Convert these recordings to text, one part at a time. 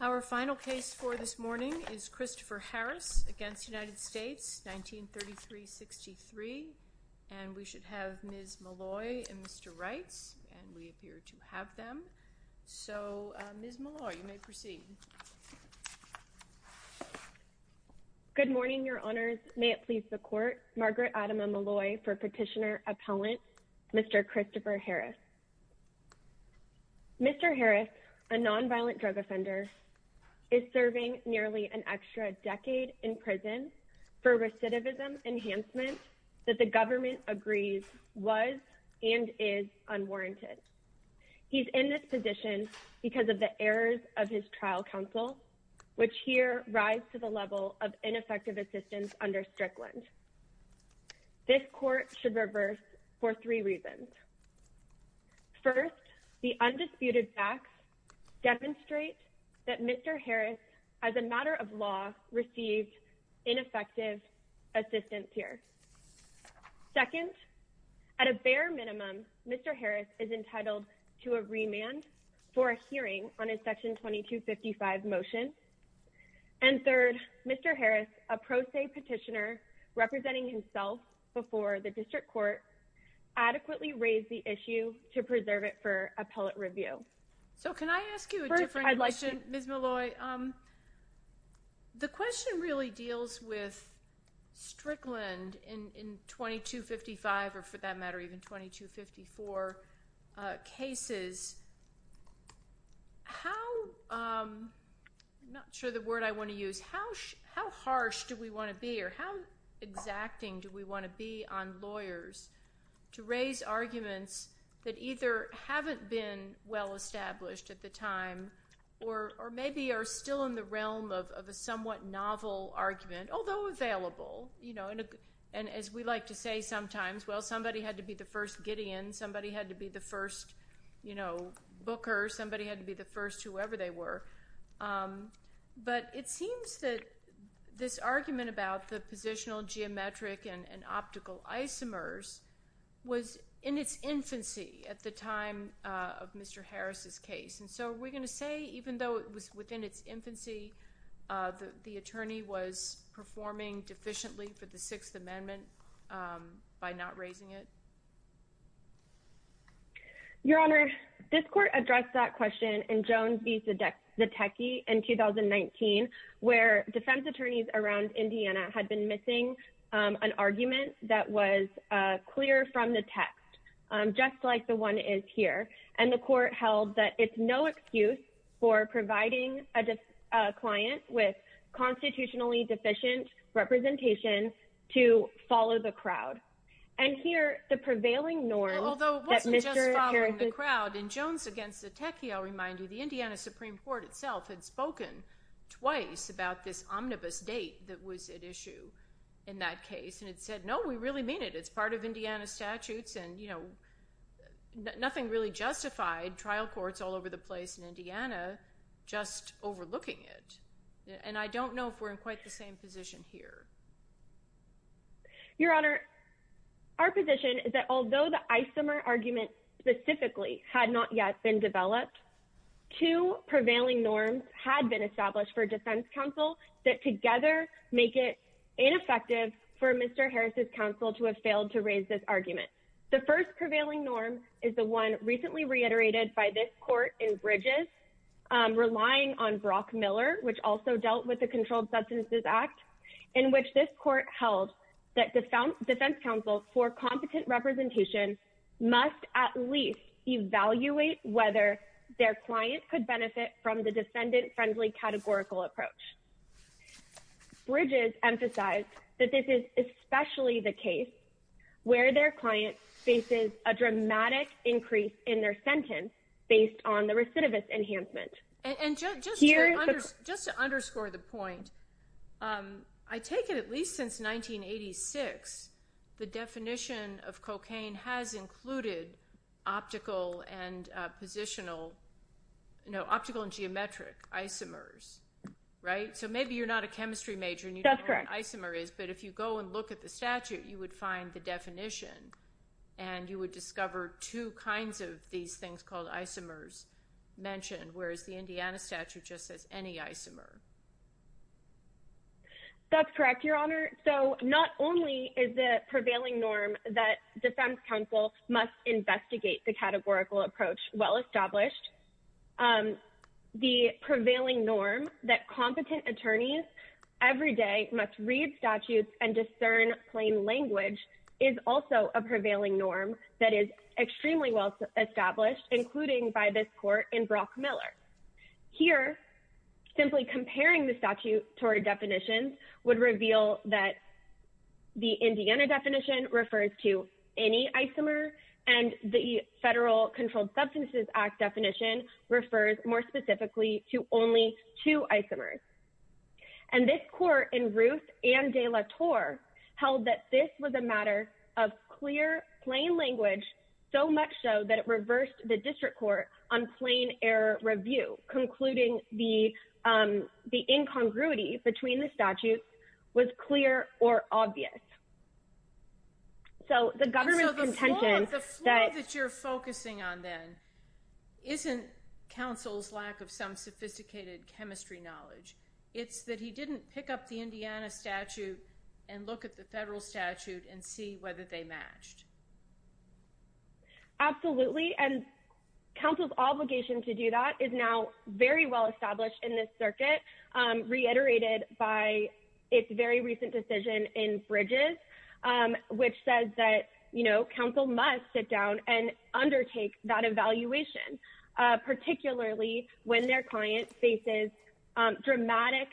Our final case for this morning is Christopher Harris v. United States, 1933-63, and we should have Ms. Molloy and Mr. Wright, and we appear to have them. So, Ms. Molloy, you may proceed. Good morning, Your Honors. May it please the Court, Margaret Adama Molloy for Petitioner Appellant, Mr. Christopher Harris. Mr. Harris, a nonviolent drug offender, is serving nearly an extra decade in prison for recidivism enhancement that the government agrees was and is unwarranted. He's in this position because of the errors of his trial counsel, which here rise to the level of ineffective assistance under Strickland. This Court should reverse for three reasons. First, the undisputed facts demonstrate that Mr. Harris, as a matter of law, received ineffective assistance here. Second, at a bare minimum, Mr. Harris is entitled to a remand for a hearing on his Section 2255 motion. And third, Mr. Harris, a pro se petitioner representing himself before the District Court, adequately raised the issue to preserve it for appellate review. So, can I ask you a different question, Ms. Molloy? The question really deals with Strickland in 2255, or for that matter, even 2254 cases. I'm not sure the word I want to use. How harsh do we want to be, or how exacting do we want to be on lawyers to raise arguments that either haven't been well established at the time, or maybe are still in the realm of a somewhat novel argument, although available. And as we like to say sometimes, well, somebody had to be the first Gideon. Somebody had to be the first Booker. Somebody had to be the first whoever they were. But it seems that this argument about the positional, geometric, and optical isomers was in its infancy at the time of Mr. Harris's case. And so, are we going to say, even though it was within its infancy, that the attorney was performing deficiently for the Sixth Amendment by not raising it? Your Honor, this court addressed that question in Jones v. Zatecki in 2019, where defense attorneys around Indiana had been missing an argument that was clear from the text, just like the one is here. And the court held that it's no excuse for providing a client with constitutionally deficient representation to follow the crowd. And here, the prevailing norm that Mr. Harris… Although it wasn't just following the crowd. In Jones v. Zatecki, I'll remind you, the Indiana Supreme Court itself had spoken twice about this omnibus date that was at issue in that case. And it said, no, we really mean it. It's part of Indiana statutes, and nothing really justified trial courts all over the place in Indiana just overlooking it. And I don't know if we're in quite the same position here. Your Honor, our position is that although the isomer argument specifically had not yet been developed, two prevailing norms had been established for defense counsel that together make it ineffective for Mr. Harris' counsel to have failed to raise this argument. The first prevailing norm is the one recently reiterated by this court in Bridges, relying on Brock Miller, which also dealt with the Controlled Substances Act, in which this court held that defense counsel for competent representation must at least evaluate whether their client could benefit from the defendant-friendly categorical approach. Bridges emphasized that this is especially the case where their client faces a dramatic increase in their sentence based on the recidivist enhancement. And just to underscore the point, I take it at least since 1986, the definition of cocaine has included optical and geometric isomers, right? So maybe you're not a chemistry major, and you don't know what an isomer is, but if you go and look at the statute, you would find the definition. And you would discover two kinds of these things called isomers mentioned, whereas the Indiana statute just says any isomer. That's correct, Your Honor. So not only is the prevailing norm that defense counsel must investigate the categorical approach well-established, the prevailing norm that competent attorneys every day must read statutes and discern plain language is also a prevailing norm that is extremely well-established, including by this court in Brock Miller. Here, simply comparing the statutory definitions would reveal that the Indiana definition refers to any isomer, and the Federal Controlled Substances Act definition refers more specifically to only two isomers. And this court in Ruth and De La Torre held that this was a matter of clear, plain language, so much so that it reversed the district court on plain error review, concluding the incongruity between the statutes was clear or obvious. And so the flaw that you're focusing on, then, isn't counsel's lack of some sophisticated chemistry knowledge. It's that he didn't pick up the Indiana statute and look at the federal statute and see whether they matched. Absolutely. And counsel's obligation to do that is now very well-established in this circuit, reiterated by its very recent decision in Bridges, which says that, you know, counsel must sit down and undertake that evaluation, particularly when their client faces dramatic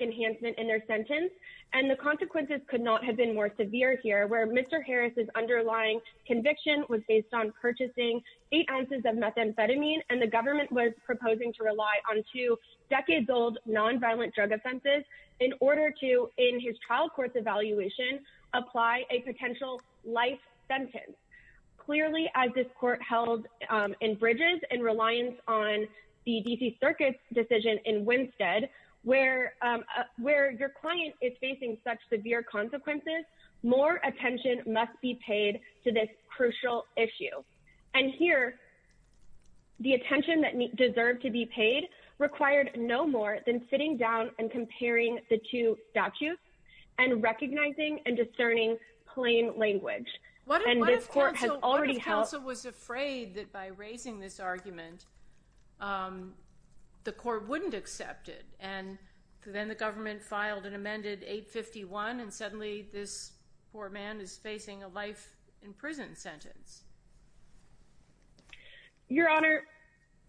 enhancement in their sentence. And the consequences could not have been more severe here, where Mr. Harris's underlying conviction was based on purchasing eight ounces of methamphetamine, and the government was proposing to rely on two decades-old nonviolent drug offenses in order to, in his trial court's evaluation, apply a potential life sentence. Clearly, as this court held in Bridges in reliance on the D.C. Circuit's decision in Winstead, where your client is facing such severe consequences, more attention must be paid to this crucial issue. And here, the attention that deserved to be paid required no more than sitting down and comparing the two statutes and recognizing and discerning plain language. What if counsel was afraid that by raising this argument, the court wouldn't accept it, and then the government filed and amended 851, and suddenly this poor man is facing a life in prison sentence? Your Honor,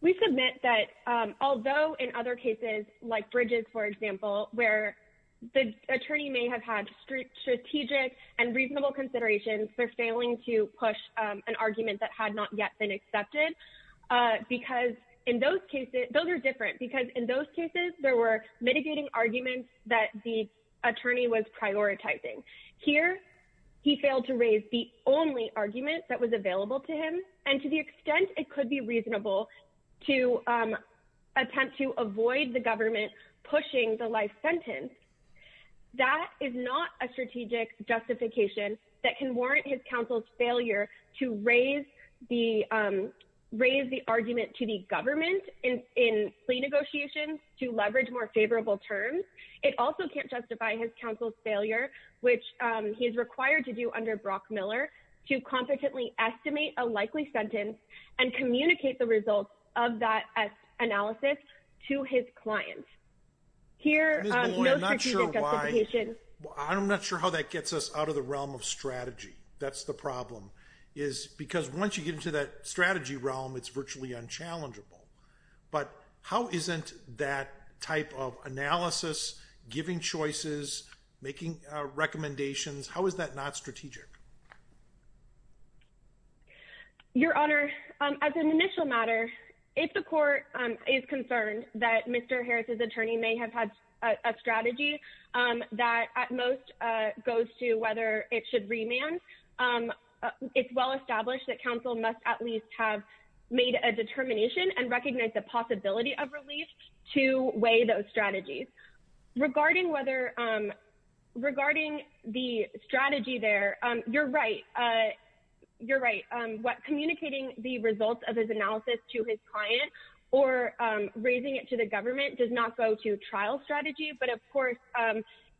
we submit that although in other cases, like Bridges, for example, where the attorney may have had strategic and reasonable considerations, they're failing to push an argument that had not yet been accepted. Because in those cases, those are different, because in those cases, there were mitigating arguments that the attorney was prioritizing. Here, he failed to raise the only argument that was available to him, and to the extent it could be reasonable to attempt to avoid the government pushing the life sentence, that is not a strategic justification that can warrant his counsel's failure to raise the argument to the government in plea negotiations to leverage more favorable terms. It also can't justify his counsel's failure, which he is required to do under Brock Miller, to competently estimate a likely sentence and communicate the results of that analysis to his client. Here, no strategic justification. I'm not sure how that gets us out of the realm of strategy. That's the problem, is because once you get into that strategy realm, it's virtually unchallengeable. But how isn't that type of analysis, giving choices, making recommendations, how is that not strategic? Your Honor, as an initial matter, if the court is concerned that Mr. Harris's attorney may have had a strategy that at most goes to whether it should remand, it's well established that counsel must at least have made a determination and recognize the possibility of relief to weigh those strategies. Regarding whether, regarding the strategy there, you're right. You're right. Communicating the results of his analysis to his client or raising it to the government does not go to trial strategy, but of course,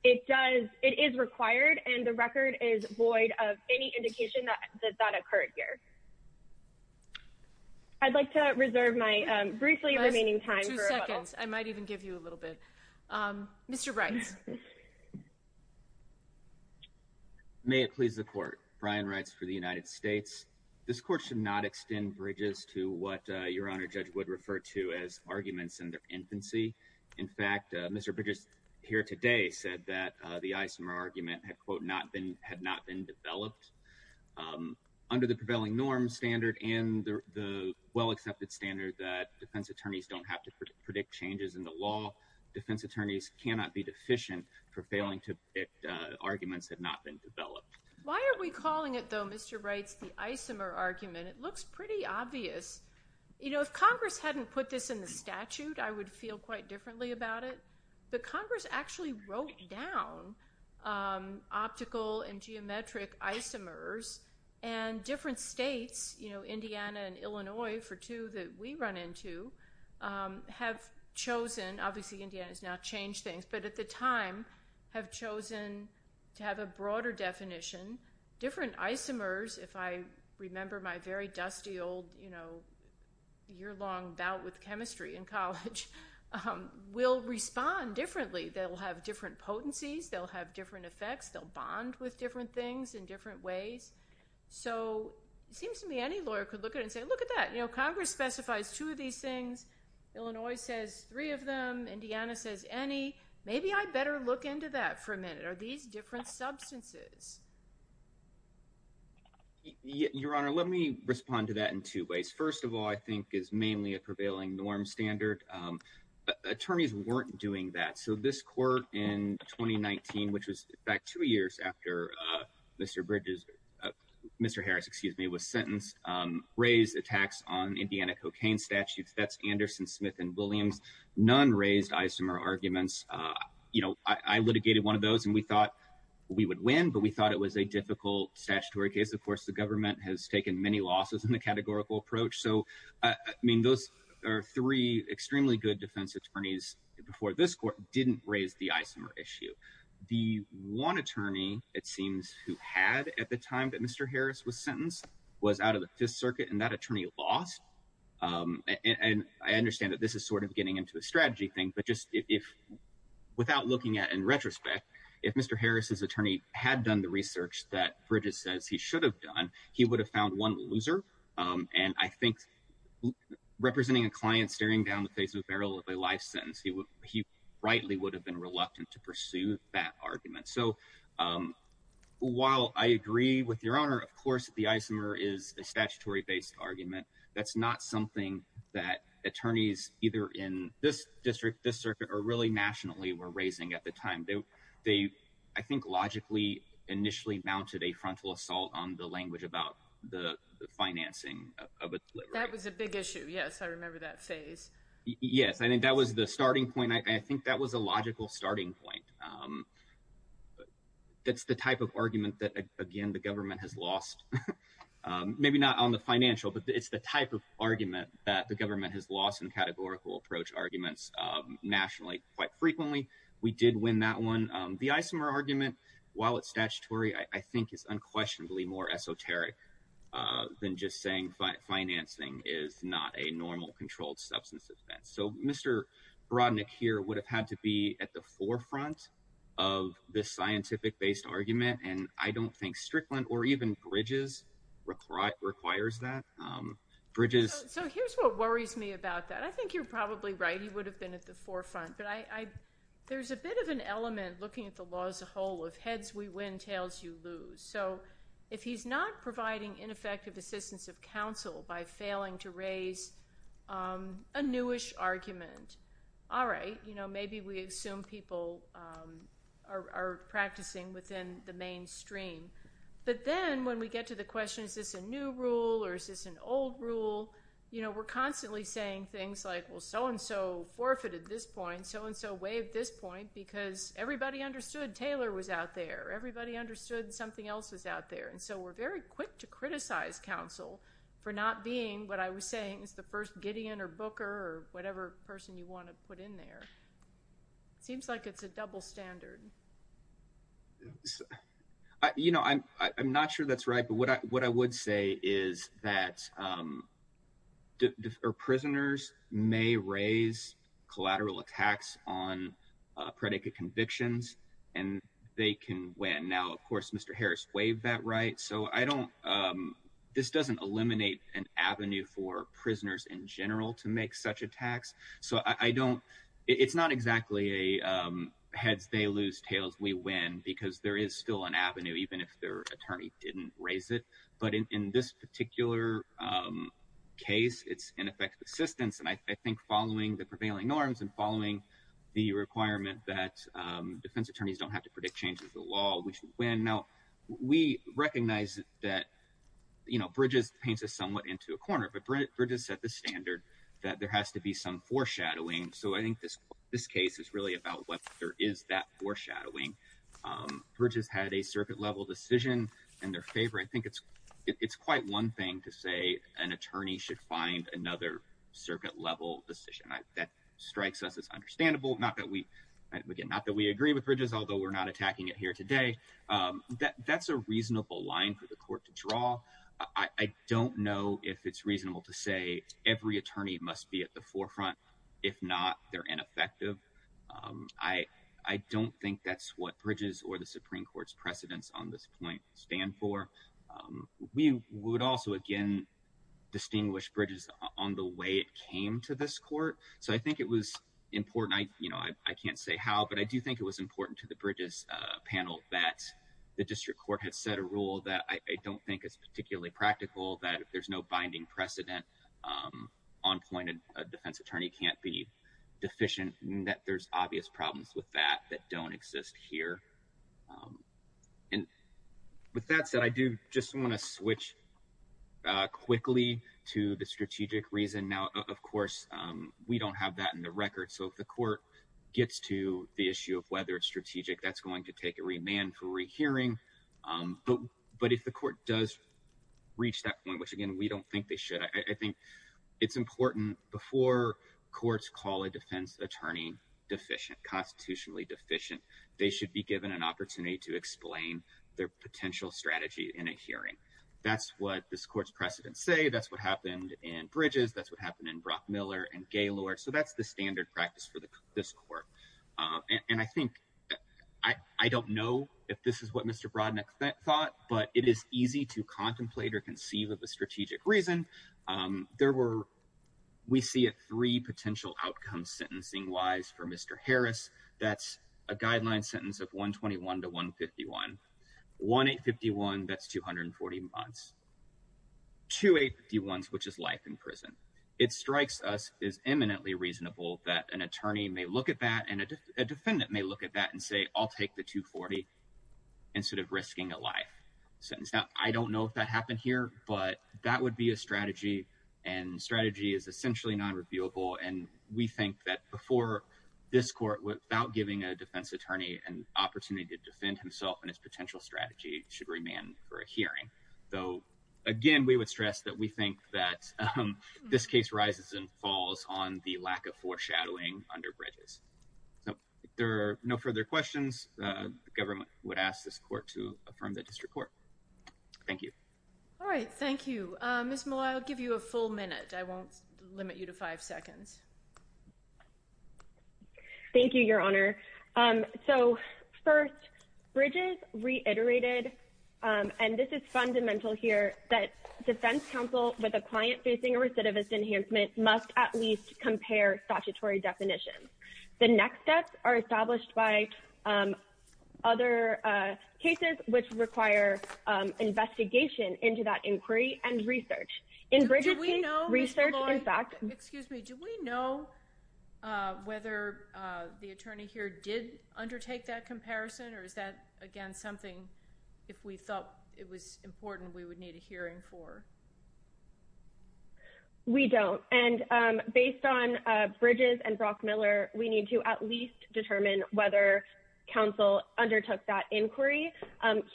it does, it is required, and the record is void of any indication that that occurred here. I'd like to reserve my briefly remaining time. Two seconds, I might even give you a little bit. Mr. Brites. May it please the court. Brian Brites for the United States. This court should not extend Bridges to what Your Honor Judge Wood referred to as arguments in their infancy. In fact, Mr. Bridges here today said that the isomer argument had, quote, not been, had not been developed. Under the prevailing norms standard and the well accepted standard that defense attorneys don't have to predict changes in the law, defense attorneys cannot be deficient for failing to predict arguments that have not been developed. Why are we calling it, though, Mr. Brites, the isomer argument? It looks pretty obvious. You know, if Congress hadn't put this in the statute, I would feel quite differently about it. But Congress actually wrote down optical and geometric isomers, and different states, you know, Indiana and Illinois, for two that we run into, have chosen, obviously Indiana has now changed things, but at the time, have chosen to have a broader definition. Different isomers, if I remember my very dusty old, you know, year-long bout with chemistry in college, will respond differently. They'll have different potencies. They'll have different effects. They'll bond with different things in different ways. So it seems to me any lawyer could look at it and say, look at that. You know, Congress specifies two of these things. Illinois says three of them. Indiana says any. Maybe I better look into that for a minute. Are these different substances? Your Honor, let me respond to that in two ways. First of all, I think is mainly a prevailing norm standard. Attorneys weren't doing that. So this court in 2019, which was back two years after Mr. Bridges, Mr. Harris, excuse me, was sentenced, raised attacks on Indiana cocaine statutes. That's Anderson, Smith, and Williams. None raised isomer arguments. You know, I litigated one of those, and we thought we would win, but we thought it was a difficult statutory case. Of course, the government has taken many losses in the categorical approach. So, I mean, those are three extremely good defense attorneys before this court didn't raise the isomer issue. The one attorney, it seems, who had at the time that Mr. Harris was sentenced was out of the Fifth Circuit, and that attorney lost. And I understand that this is sort of getting into a strategy thing, but just if without looking at in retrospect, if Mr. Harris's attorney had done the research that Bridges says he should have done, he would have found one loser. And I think representing a client staring down the face of a barrel of a life sentence, he rightly would have been reluctant to pursue that argument. So, while I agree with Your Honor, of course, the isomer is a statutory-based argument. That's not something that attorneys either in this district, this circuit, or really nationally were raising at the time. They, I think, logically initially mounted a frontal assault on the language about the financing. That was a big issue, yes. I remember that phase. Yes, I think that was the starting point. I think that was a logical starting point. That's the type of argument that, again, the government has lost, maybe not on the financial, but it's the type of argument that the government has lost in categorical approach arguments nationally quite frequently. We did win that one. The isomer argument, while it's statutory, I think is unquestionably more esoteric than just saying financing is not a normal controlled substance offense. So, Mr. Brodnick here would have had to be at the forefront of the scientific-based argument, and I don't think Strickland or even Bridges requires that. So, here's what worries me about that. I think you're probably right, he would have been at the forefront, but there's a bit of an element, looking at the law as a whole, of heads we win, tails you lose. So, if he's not providing ineffective assistance of counsel by failing to raise a newish argument, all right, maybe we assume people are practicing within the mainstream. But then, when we get to the question, is this a new rule or is this an old rule, we're constantly saying things like, well, so-and-so forfeited this point, so-and-so waived this point, because everybody understood Taylor was out there. Everybody understood something else was out there. And so, we're very quick to criticize counsel for not being what I was saying is the first Gideon or Booker or whatever person you want to put in there. It seems like it's a double standard. You know, I'm not sure that's right, but what I would say is that prisoners may raise collateral attacks on predicate convictions, and they can win. Now, of course, Mr. Harris waived that right. So, I don't – this doesn't eliminate an avenue for prisoners in general to make such attacks. So, I don't – it's not exactly a heads, they lose, tails, we win, because there is still an avenue, even if their attorney didn't raise it. But in this particular case, it's ineffective assistance. And I think following the prevailing norms and following the requirement that defense attorneys don't have to predict changes to the law, we should win. Now, we recognize that, you know, Bridges paints us somewhat into a corner, but Bridges set the standard that there has to be some foreshadowing. So, I think this case is really about whether there is that foreshadowing. Bridges had a circuit-level decision in their favor. I think it's quite one thing to say an attorney should find another circuit-level decision. That strikes us as understandable, not that we – again, not that we agree with Bridges, although we're not attacking it here today. That's a reasonable line for the court to draw. I don't know if it's reasonable to say every attorney must be at the forefront. If not, they're ineffective. I don't think that's what Bridges or the Supreme Court's precedents on this point stand for. We would also, again, distinguish Bridges on the way it came to this court. So, I think it was important. You know, I can't say how, but I do think it was important to the Bridges panel that the district court had set a rule that I don't think is particularly practical, that if there's no binding precedent on point, a defense attorney can't be deficient, and that there's obvious problems with that that don't exist here. And with that said, I do just want to switch quickly to the strategic reason. Now, of course, we don't have that in the record. So, if the court gets to the issue of whether it's strategic, that's going to take a remand for rehearing. But if the court does reach that point, which, again, we don't think they should, I think it's important before courts call a defense attorney deficient, constitutionally deficient, they should be given an opportunity to explain their potential strategy in a hearing. That's what this court's precedents say. That's what happened in Bridges. That's what happened in Brockmiller and Gaylord. So, that's the standard practice for this court. And I think, I don't know if this is what Mr. Brodnick thought, but it is easy to contemplate or conceive of a strategic reason. There were, we see three potential outcomes sentencing-wise for Mr. Harris. That's a guideline sentence of 121 to 151. 1851, that's 240 months. 2851, which is life in prison. It strikes us as eminently reasonable that an attorney may look at that and a defendant may look at that and say, I'll take the 240 instead of risking a life sentence. Now, I don't know if that happened here, but that would be a strategy. And strategy is essentially non-reviewable. And we think that before this court, without giving a defense attorney an opportunity to defend himself and his potential strategy, it should remain for a hearing. Though, again, we would stress that we think that this case rises and falls on the lack of foreshadowing under Bridges. So, if there are no further questions, the government would ask this court to affirm the district court. Thank you. All right, thank you. Ms. Malloy, I'll give you a full minute. I won't limit you to five seconds. Thank you, Your Honor. So, first, Bridges reiterated, and this is fundamental here, that defense counsel with a client facing a recidivist enhancement must at least compare statutory definitions. The next steps are established by other cases, which require investigation into that inquiry and research. Do we know, Ms. Malloy, excuse me, do we know whether the attorney here did undertake that comparison? Or is that, again, something, if we thought it was important, we would need a hearing for? We don't. And based on Bridges and Brockmiller, we need to at least determine whether counsel undertook that inquiry.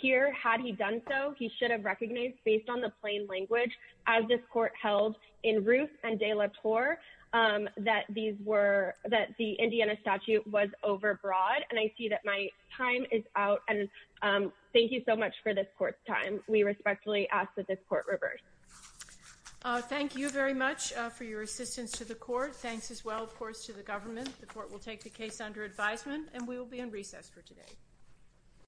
Here, had he done so, he should have recognized, based on the plain language, as this court held in Ruth and De La Torre, that the Indiana statute was overbroad. And I see that my time is out. And thank you so much for this court's time. We respectfully ask that this court reverse. Thank you very much for your assistance to the court. Thanks as well, of course, to the government. The court will take the case under advisement, and we will be in recess for today.